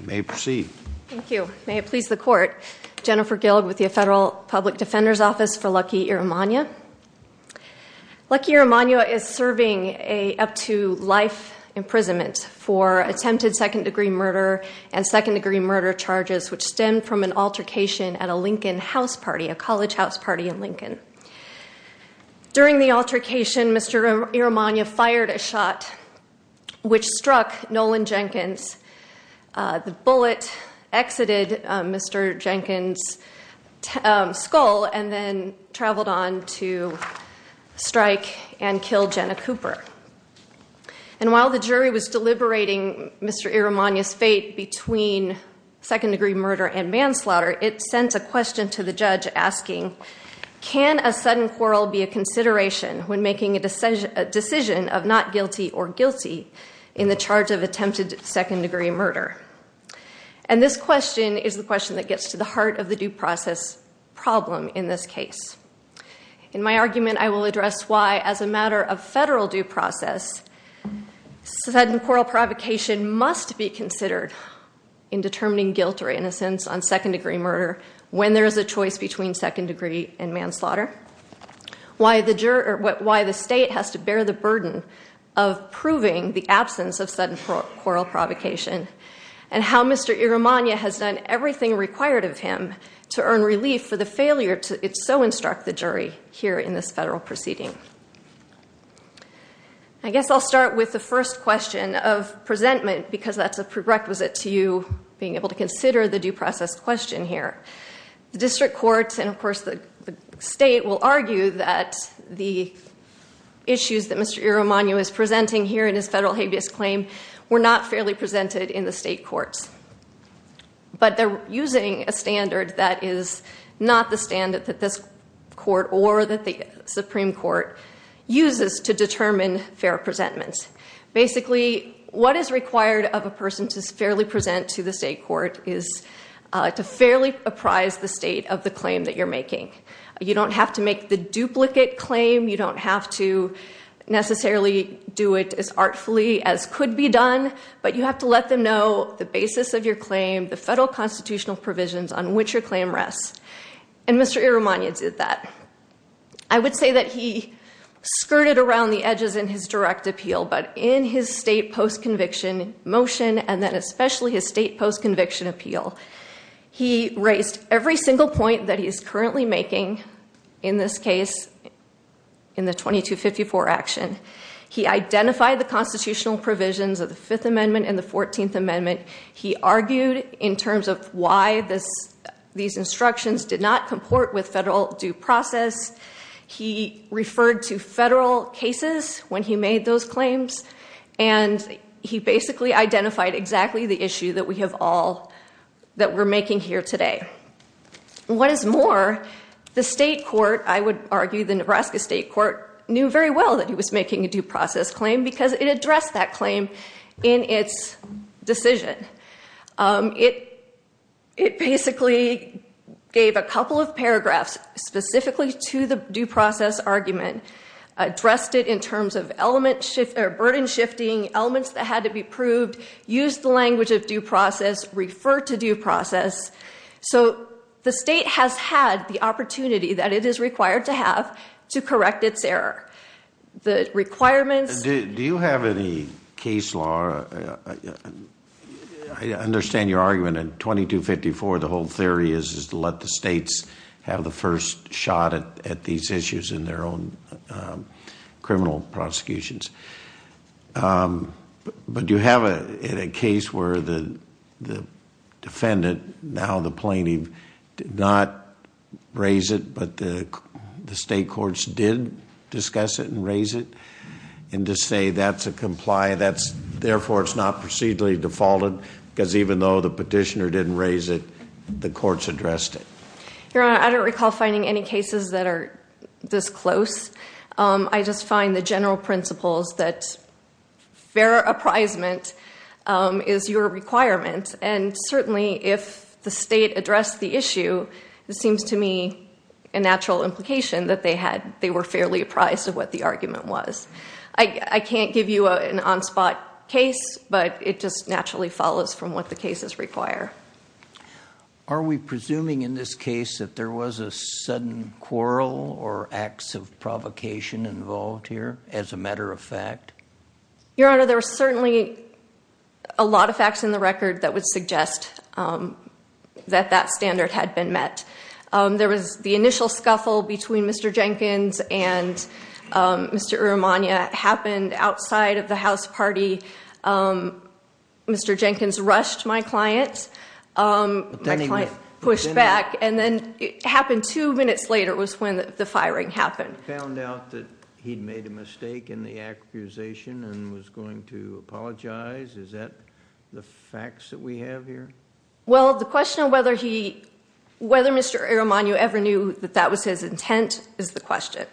May proceed. Thank you. May it please the court Jennifer Gill with the Federal Public Defender's Office for Lucky Iromuanya Lucky Iromuanya is serving a up to life imprisonment for attempted second-degree murder and second-degree murder charges Which stemmed from an altercation at a Lincoln house party a college house party in Lincoln During the altercation. Mr. Iromuanya fired a shot which struck Nolan Jenkins The bullet exited. Mr. Jenkins Skull and then traveled on to strike and kill Jenna Cooper and While the jury was deliberating. Mr. Iromuanya's fate between Second-degree murder and manslaughter. It sends a question to the judge asking Can a sudden quarrel be a consideration when making a decision a decision of not guilty or guilty In the charge of attempted second-degree murder and This question is the question that gets to the heart of the due process Problem in this case in my argument. I will address why as a matter of federal due process Sudden quarrel provocation must be considered in Determining guilt or innocence on second-degree murder when there is a choice between second-degree and manslaughter why the juror what why the state has to bear the burden of Proving the absence of sudden quarrel provocation and how mr Iromuanya has done everything required of him to earn relief for the failure to it So instruct the jury here in this federal proceeding. I Guess I'll start with the first question of Presentment because that's a prerequisite to you being able to consider the due process question here the district courts and of course the state will argue that the Issues that mr. Iromuanya is presenting here in his federal habeas claim were not fairly presented in the state courts But they're using a standard that is not the standard that this court or that the Supreme Court Uses to determine fair presentments basically, what is required of a person to fairly present to the state court is To fairly apprise the state of the claim that you're making you don't have to make the duplicate claim You don't have to Necessarily do it as artfully as could be done but you have to let them know the basis of your claim the federal constitutional provisions on which your claim rests and Mr. Iromuanya did that I would say that he Skirted around the edges in his direct appeal, but in his state post conviction motion and then especially his state post conviction appeal He raised every single point that he is currently making in this case In the 2254 action he identified the constitutional provisions of the Fifth Amendment and the Fourteenth Amendment He argued in terms of why this these instructions did not comport with federal due process he referred to federal cases when he made those claims and He basically identified exactly the issue that we have all that we're making here today What is more the state court I would argue the Nebraska State Court knew very well that he was making a due process claim because it addressed that claim in its decision it it basically Gave a couple of paragraphs specifically to the due process argument Addressed it in terms of element shift or burden shifting elements that had to be proved used the language of due process refer to due process So the state has had the opportunity that it is required to have to correct its error The requirements. Do you have any case law? Understand your argument in 2254 the whole theory is is to let the states have the first shot at these issues in their own criminal prosecutions But you have a case where the Defendant now the plaintiff did not Raise it, but the the state courts did discuss it and raise it and to say that's a comply That's therefore it's not procedurally defaulted because even though the petitioner didn't raise it the courts addressed it Your honor. I don't recall finding any cases that are this close. I just find the general principles that fair appraisement Is your requirement and certainly if the state addressed the issue It seems to me a natural implication that they had they were fairly apprised of what the argument was I can't give you an on-spot case, but it just naturally follows from what the cases require Are we presuming in this case that there was a sudden quarrel or acts of provocation? Involved here as a matter of fact Your honor there were certainly a lot of facts in the record that would suggest That that standard had been met. There was the initial scuffle between mr. Jenkins and Mr. Irromania happened outside of the house party Mr. Jenkins rushed my client Pushed back and then it happened two minutes later was when the firing happened found out that he'd made a mistake in the Accusation and was going to apologize. Is that the facts that we have here? Well the question of whether he Whether mr. Irromania ever knew that that was his intent is the question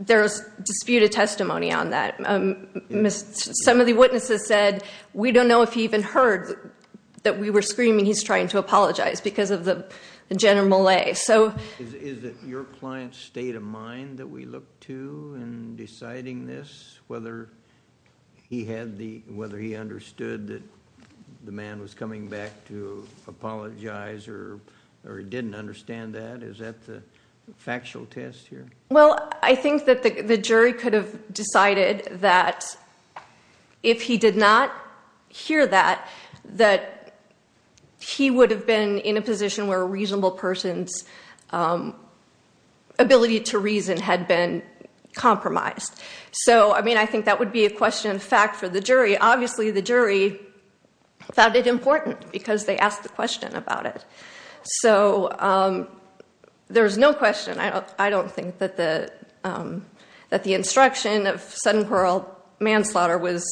There's disputed testimony on that Miss some of the witnesses said we don't know if he even heard that we were screaming He's trying to apologize because of the general a so Your client state of mind that we look to and deciding this whether he had the whether he understood that the man was coming back to Apologize or or he didn't understand that. Is that the factual test here? well, I think that the jury could have decided that if he did not hear that that He would have been in a position where a reasonable person's Ability to reason had been Compromised. So I mean, I think that would be a question in fact for the jury. Obviously the jury Found it important because they asked the question about it. So There's no question. I don't I don't think that the that the instruction of sudden parole manslaughter was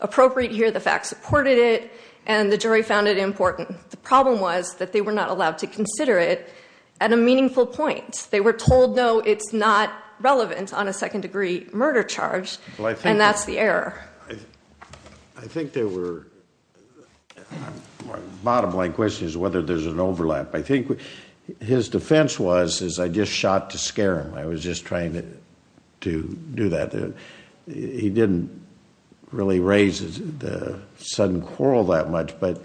Appropriate here the fact supported it and the jury found it important The problem was that they were not allowed to consider it at a meaningful point. They were told no It's not relevant on a second-degree murder charge, and that's the error. I think they were Bottom-line question is whether there's an overlap. I think His defense was as I just shot to scare him. I was just trying to do that he didn't really raise the sudden quarrel that much but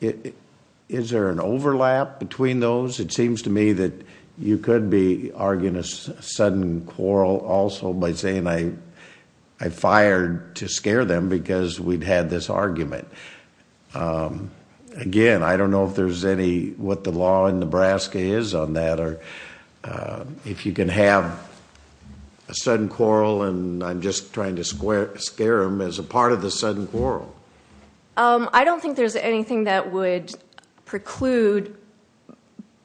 Is there an overlap between those it seems to me that you could be arguing a sudden quarrel also by saying I Fired to scare them because we'd had this argument Again, I don't know if there's any what the law in Nebraska is on that or if you can have a Sudden quarrel and I'm just trying to square scare him as a part of the sudden quarrel I don't think there's anything that would preclude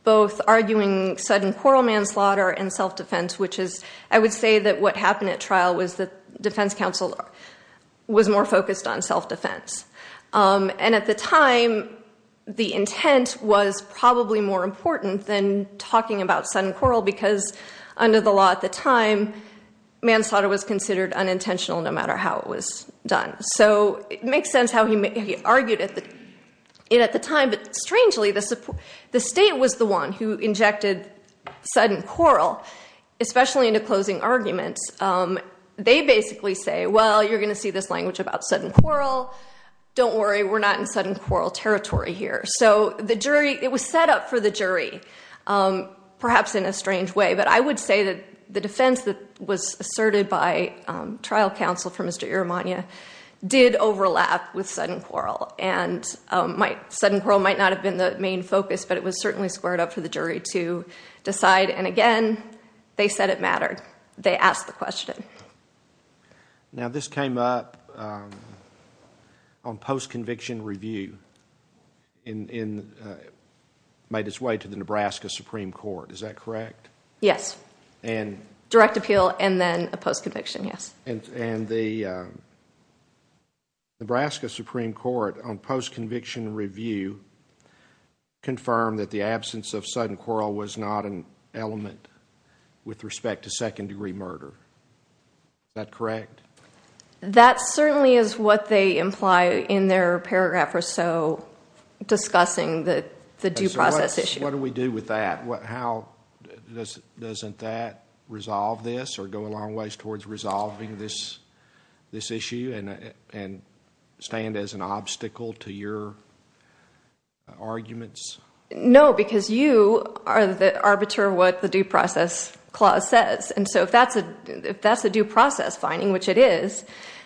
Both arguing sudden quarrel manslaughter and self-defense, which is I would say that what happened at trial was the defense counsel Was more focused on self-defense and at the time The intent was probably more important than talking about sudden quarrel because under the law at the time Manslaughter was considered unintentional no matter how it was done. So it makes sense how he argued it at the time But strangely the support the state was the one who injected sudden quarrel Especially into closing arguments They basically say well, you're gonna see this language about sudden quarrel Don't worry. We're not in sudden quarrel territory here. So the jury it was set up for the jury Perhaps in a strange way, but I would say that the defense that was asserted by trial counsel for mr. Irromania did overlap with sudden quarrel and Might sudden quarrel might not have been the main focus, but it was certainly squared up for the jury to Decide and again, they said it mattered. They asked the question Now this came up On post conviction review in Made its way to the Nebraska Supreme Court, is that correct? Yes and direct appeal and then a post conviction. Yes, and and the Nebraska Supreme Court on post conviction review Confirmed that the absence of sudden quarrel was not an element with respect to second-degree murder That correct That certainly is what they imply in their paragraph or so Discussing that the due process issue. What do we do with that? What how? This doesn't that resolve this or go a long ways towards resolving this this issue and and stand as an obstacle to your Arguments no because you are the arbiter what the due process Clause says and so if that's a if that's a due process finding which it is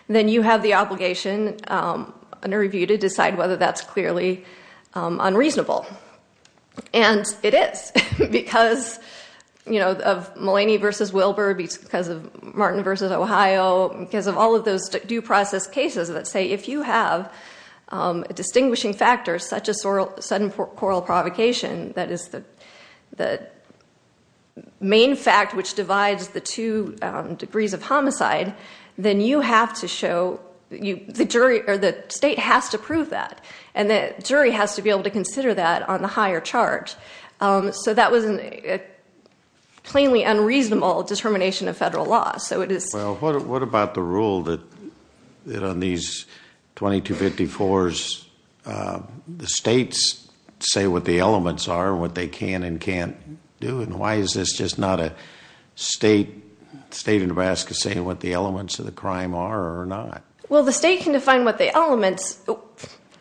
then you have the obligation Under review to decide whether that's clearly unreasonable and it is because You know of Mullaney versus Wilbur beats because of Martin versus Ohio because of all of those due process cases that say if you have Distinguishing factors such as sorrel sudden quarrel provocation. That is the the main fact which divides the two Degrees of homicide Then you have to show you the jury or the state has to prove that and the jury has to be able to consider that on the higher charge so that was a Plainly unreasonable determination of federal law. So it is well, what about the rule that that on these? 2254 The state's say what the elements are what they can and can't do and why is this just not a? State state of Nebraska saying what the elements of the crime are or not. Well, the state can define what the elements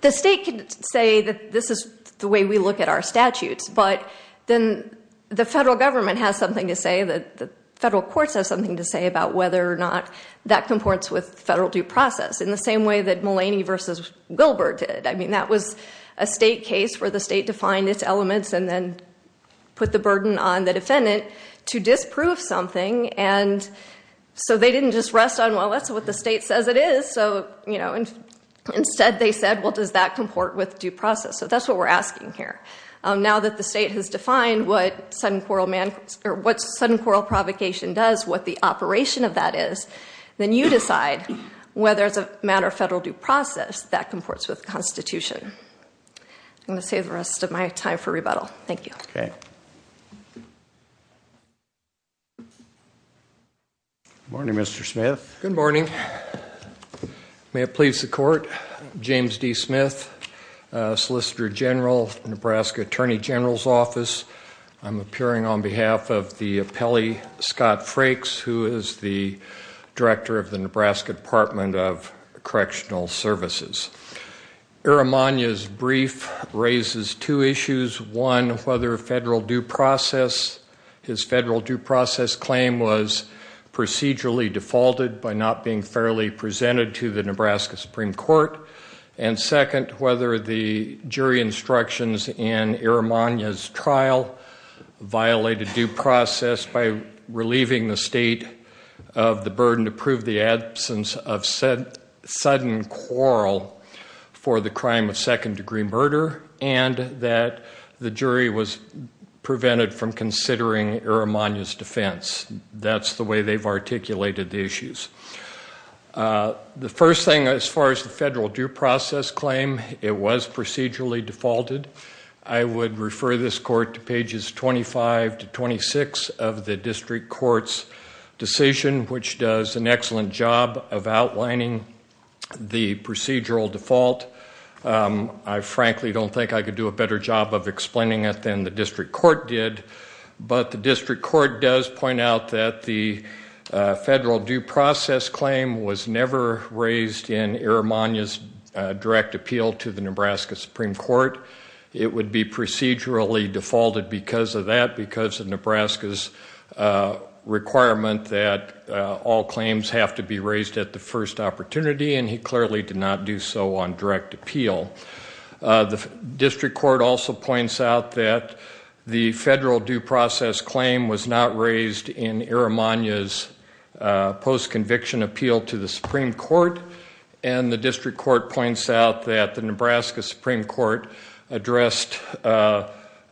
The state could say that this is the way we look at our statutes but then the federal government has something to say that the federal courts have something to say about whether or not that Comports with federal due process in the same way that Mullaney versus Wilbur did I mean that was a state case where the state defined its elements and then Put the burden on the defendant to disprove something and So they didn't just rest on well, that's what the state says it is. So, you know and instead they said well Does that comport with due process? So that's what we're asking here Now that the state has defined what sudden quarrel man or what's sudden quarrel provocation does what the operation of that is then you decide Whether it's a matter of federal due process that comports with Constitution I'm gonna save the rest of my time for rebuttal. Thank you Okay Morning mr. Smith. Good morning May it please the court James D Smith Solicitor General, Nebraska Attorney General's Office I'm appearing on behalf of the appellee Scott Frakes who is the director of the Nebraska Department of Correctional Services Erromania's brief Raises two issues one whether a federal due process his federal due process claim was procedurally defaulted by not being fairly presented to the Nebraska Supreme Court and second whether the jury instructions in Erromania's trial violated due process by relieving the state of the burden to prove the absence of said sudden quarrel for the crime of second-degree murder and that the jury was Prevented from considering Erromania's defense. That's the way they've articulated the issues The first thing as far as the federal due process claim it was procedurally defaulted I would refer this court to pages 25 to 26 of the district courts decision which does an excellent job of outlining The procedural default I frankly don't think I could do a better job of explaining it than the district court did but the district court does point out that the Federal due process claim was never raised in Erromania's Direct appeal to the Nebraska Supreme Court. It would be procedurally defaulted because of that because of Nebraska's All claims have to be raised at the first opportunity and he clearly did not do so on direct appeal The district court also points out that the federal due process claim was not raised in Erromania's Post-conviction appeal to the Supreme Court and the district court points out that the Nebraska Supreme Court addressed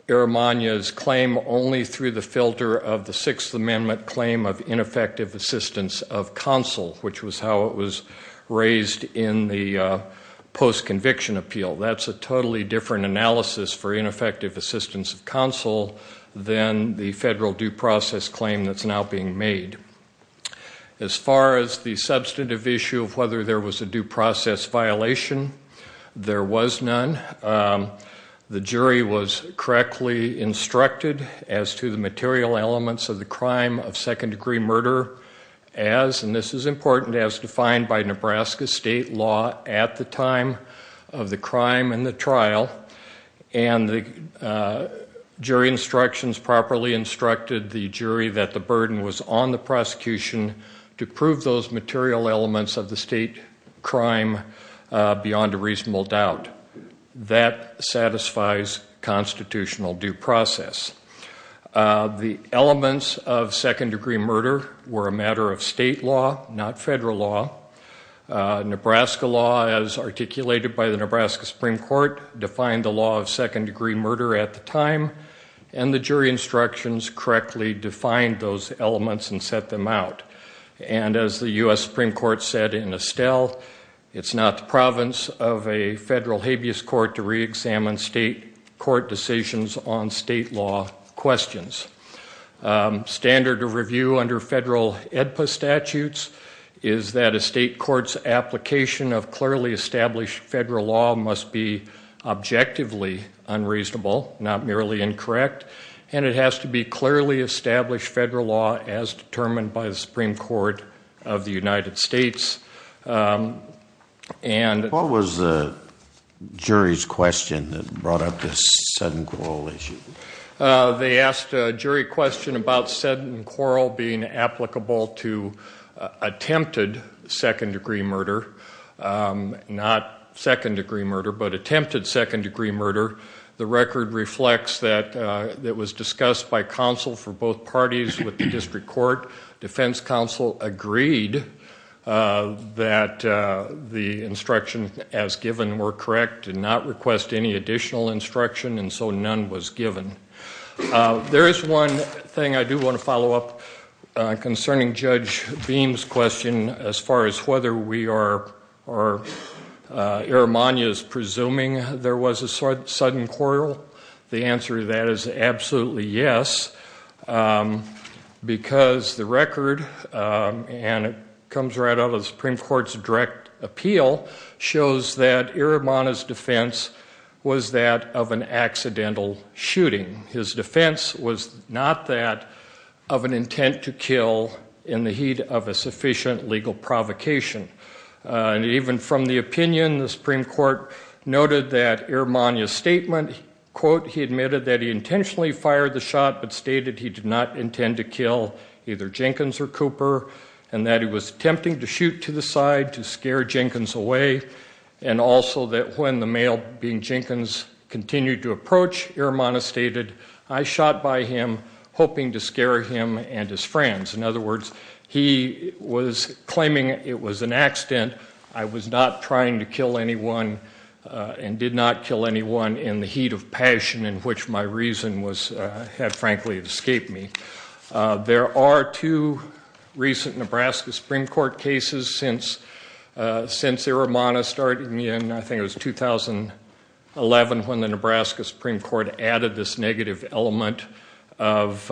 Erromania's claim only through the filter of the Sixth Amendment claim of ineffective assistance of counsel which was how it was raised in the Post-conviction appeal that's a totally different analysis for ineffective assistance of counsel Then the federal due process claim that's now being made As far as the substantive issue of whether there was a due process violation There was none The jury was correctly instructed as to the material elements of the crime of second-degree murder as and this is important as defined by Nebraska state law at the time of the crime and the trial and the Jury instructions properly instructed the jury that the burden was on the prosecution To prove those material elements of the state crime beyond a reasonable doubt that satisfies constitutional due process The elements of second-degree murder were a matter of state law not federal law Nebraska law as articulated by the Nebraska Supreme Court Defined the law of second-degree murder at the time and the jury instructions correctly defined those elements and set them out And as the US Supreme Court said in Estelle It's not the province of a federal habeas court to re-examine state court decisions on state law questions standard of review under federal EDPA statutes is that a state courts application of clearly established federal law must be objectively unreasonable not merely incorrect and it has to be clearly established federal law as determined by the Supreme Court of the United States And what was the Jury's question that brought up this sudden quarrel issue They asked a jury question about said and quarrel being applicable to attempted second-degree murder Not second-degree murder, but attempted second-degree murder the record reflects that It was discussed by counsel for both parties with the district court defense counsel agreed That The instruction as given were correct and not request any additional instruction and so none was given There is one thing I do want to follow up concerning judge beams question as far as whether we are or Erromania is presuming there was a sudden quarrel the answer that is absolutely yes Because the record And it comes right out of the Supreme Court's direct appeal Shows that Erromania's defense was that of an accidental Shooting his defense was not that of an intent to kill in the heat of a sufficient legal provocation And even from the opinion the Supreme Court Noted that Erromania's statement quote he admitted that he intentionally fired the shot But stated he did not intend to kill either Jenkins or Cooper and that he was attempting to shoot to the side to scare Jenkins Away, and also that when the male being Jenkins continued to approach Erromania stated I shot by him hoping to scare him and his friends in other words He was claiming it was an accident. I was not trying to kill anyone And did not kill anyone in the heat of passion in which my reason was had frankly escaped me there are two recent Nebraska Supreme Court cases since Since Erromania started me, and I think it was 2011 when the Nebraska Supreme Court added this negative element of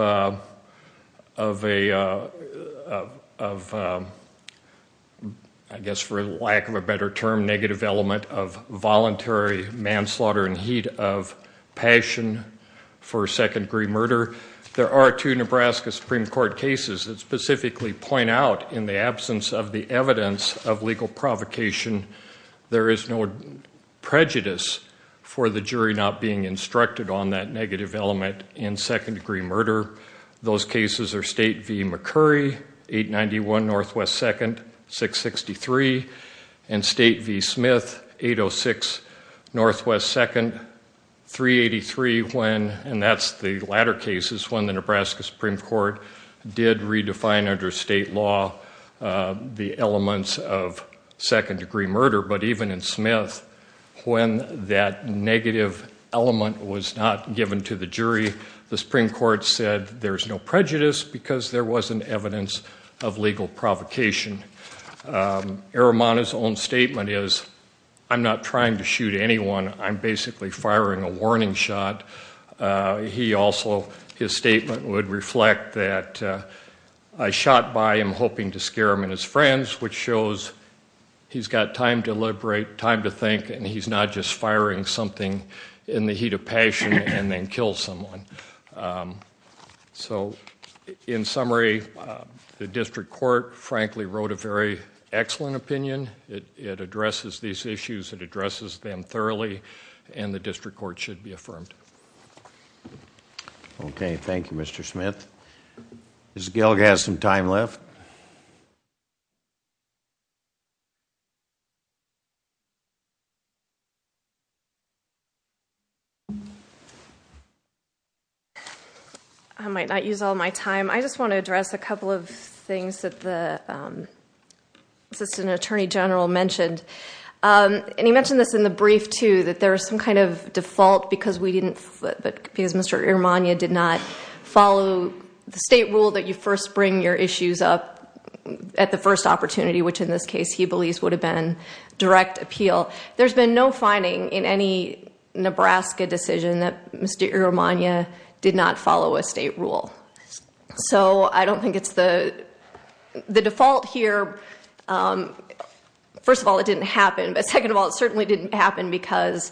of a of I Voluntary manslaughter in heat of passion for Second-degree murder there are two Nebraska Supreme Court cases that specifically point out in the absence of the evidence of legal provocation there is no Prejudice for the jury not being instructed on that negative element in second-degree murder Those cases are State v. McCurry 891 Northwest 2nd 663 and State v. Smith 806 Northwest 2nd 383 when and that's the latter cases when the Nebraska Supreme Court did redefine under state law the elements of second-degree murder But even in Smith when that negative element was not given to the jury the Supreme Court said There's no prejudice because there wasn't evidence of legal provocation Erromania's own statement is I'm not trying to shoot anyone. I'm basically firing a warning shot he also his statement would reflect that I Shot by him hoping to scare him and his friends which shows He's got time to liberate time to think and he's not just firing something in the heat of passion and then kill someone so in summary The district court frankly wrote a very excellent opinion. It addresses these issues that addresses them thoroughly And the district court should be affirmed Okay, thank you, mr. Smith miss gilgaz some time left You I Might not use all my time. I just want to address a couple of things that the Assistant Attorney General mentioned And he mentioned this in the brief to that. There are some kind of default because we didn't but because mr. Erromania did not follow the state rule that you first bring your issues up At the first opportunity, which in this case he believes would have been direct appeal. There's been no finding in any Nebraska decision that mr. Erromania did not follow a state rule so I don't think it's the the default here First of all, it didn't happen. But second of all, it certainly didn't happen because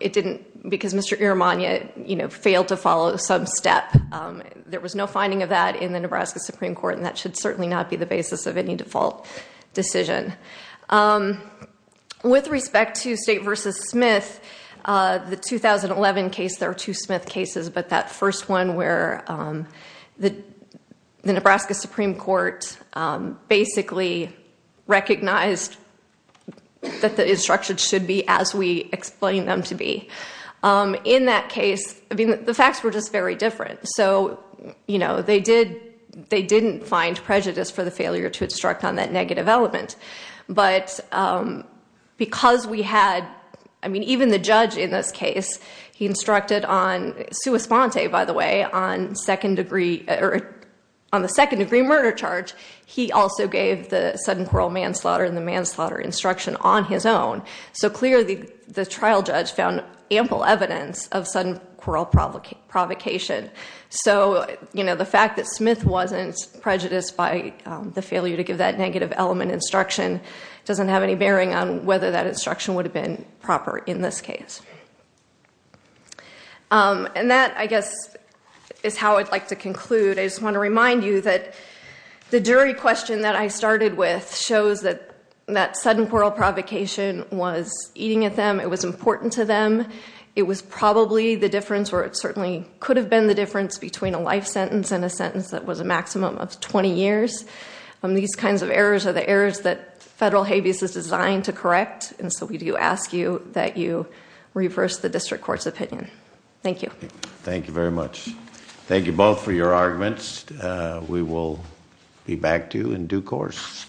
It didn't because mr. Erromania, you know failed to follow some step There was no finding of that in the Nebraska Supreme Court and that should certainly not be the basis of any default decision With Respect to state versus Smith the 2011 case there are two Smith cases, but that first one where the Nebraska Supreme Court basically recognized That the instruction should be as we explain them to be In that case, I mean the facts were just very different So, you know, they did they didn't find prejudice for the failure to instruct on that negative element but Because we had I mean even the judge in this case he instructed on Sua-sponte by the way on second degree or on the second degree murder charge He also gave the sudden quarrel manslaughter and the manslaughter instruction on his own So clearly the trial judge found ample evidence of sudden quarrel provocation So, you know the fact that Smith wasn't prejudiced by the failure to give that negative element instruction Doesn't have any bearing on whether that instruction would have been proper in this case And that I guess is how I'd like to conclude I just want to remind you that The jury question that I started with shows that that sudden quarrel provocation was eating at them It was important to them It was probably the difference where it certainly could have been the difference between a life sentence and a sentence that was a maximum of 20 years and these kinds of errors are the errors that federal habeas is designed to correct and so we do ask you that you Reverse the district courts opinion. Thank you. Thank you very much. Thank you both for your arguments We will be back to you in due course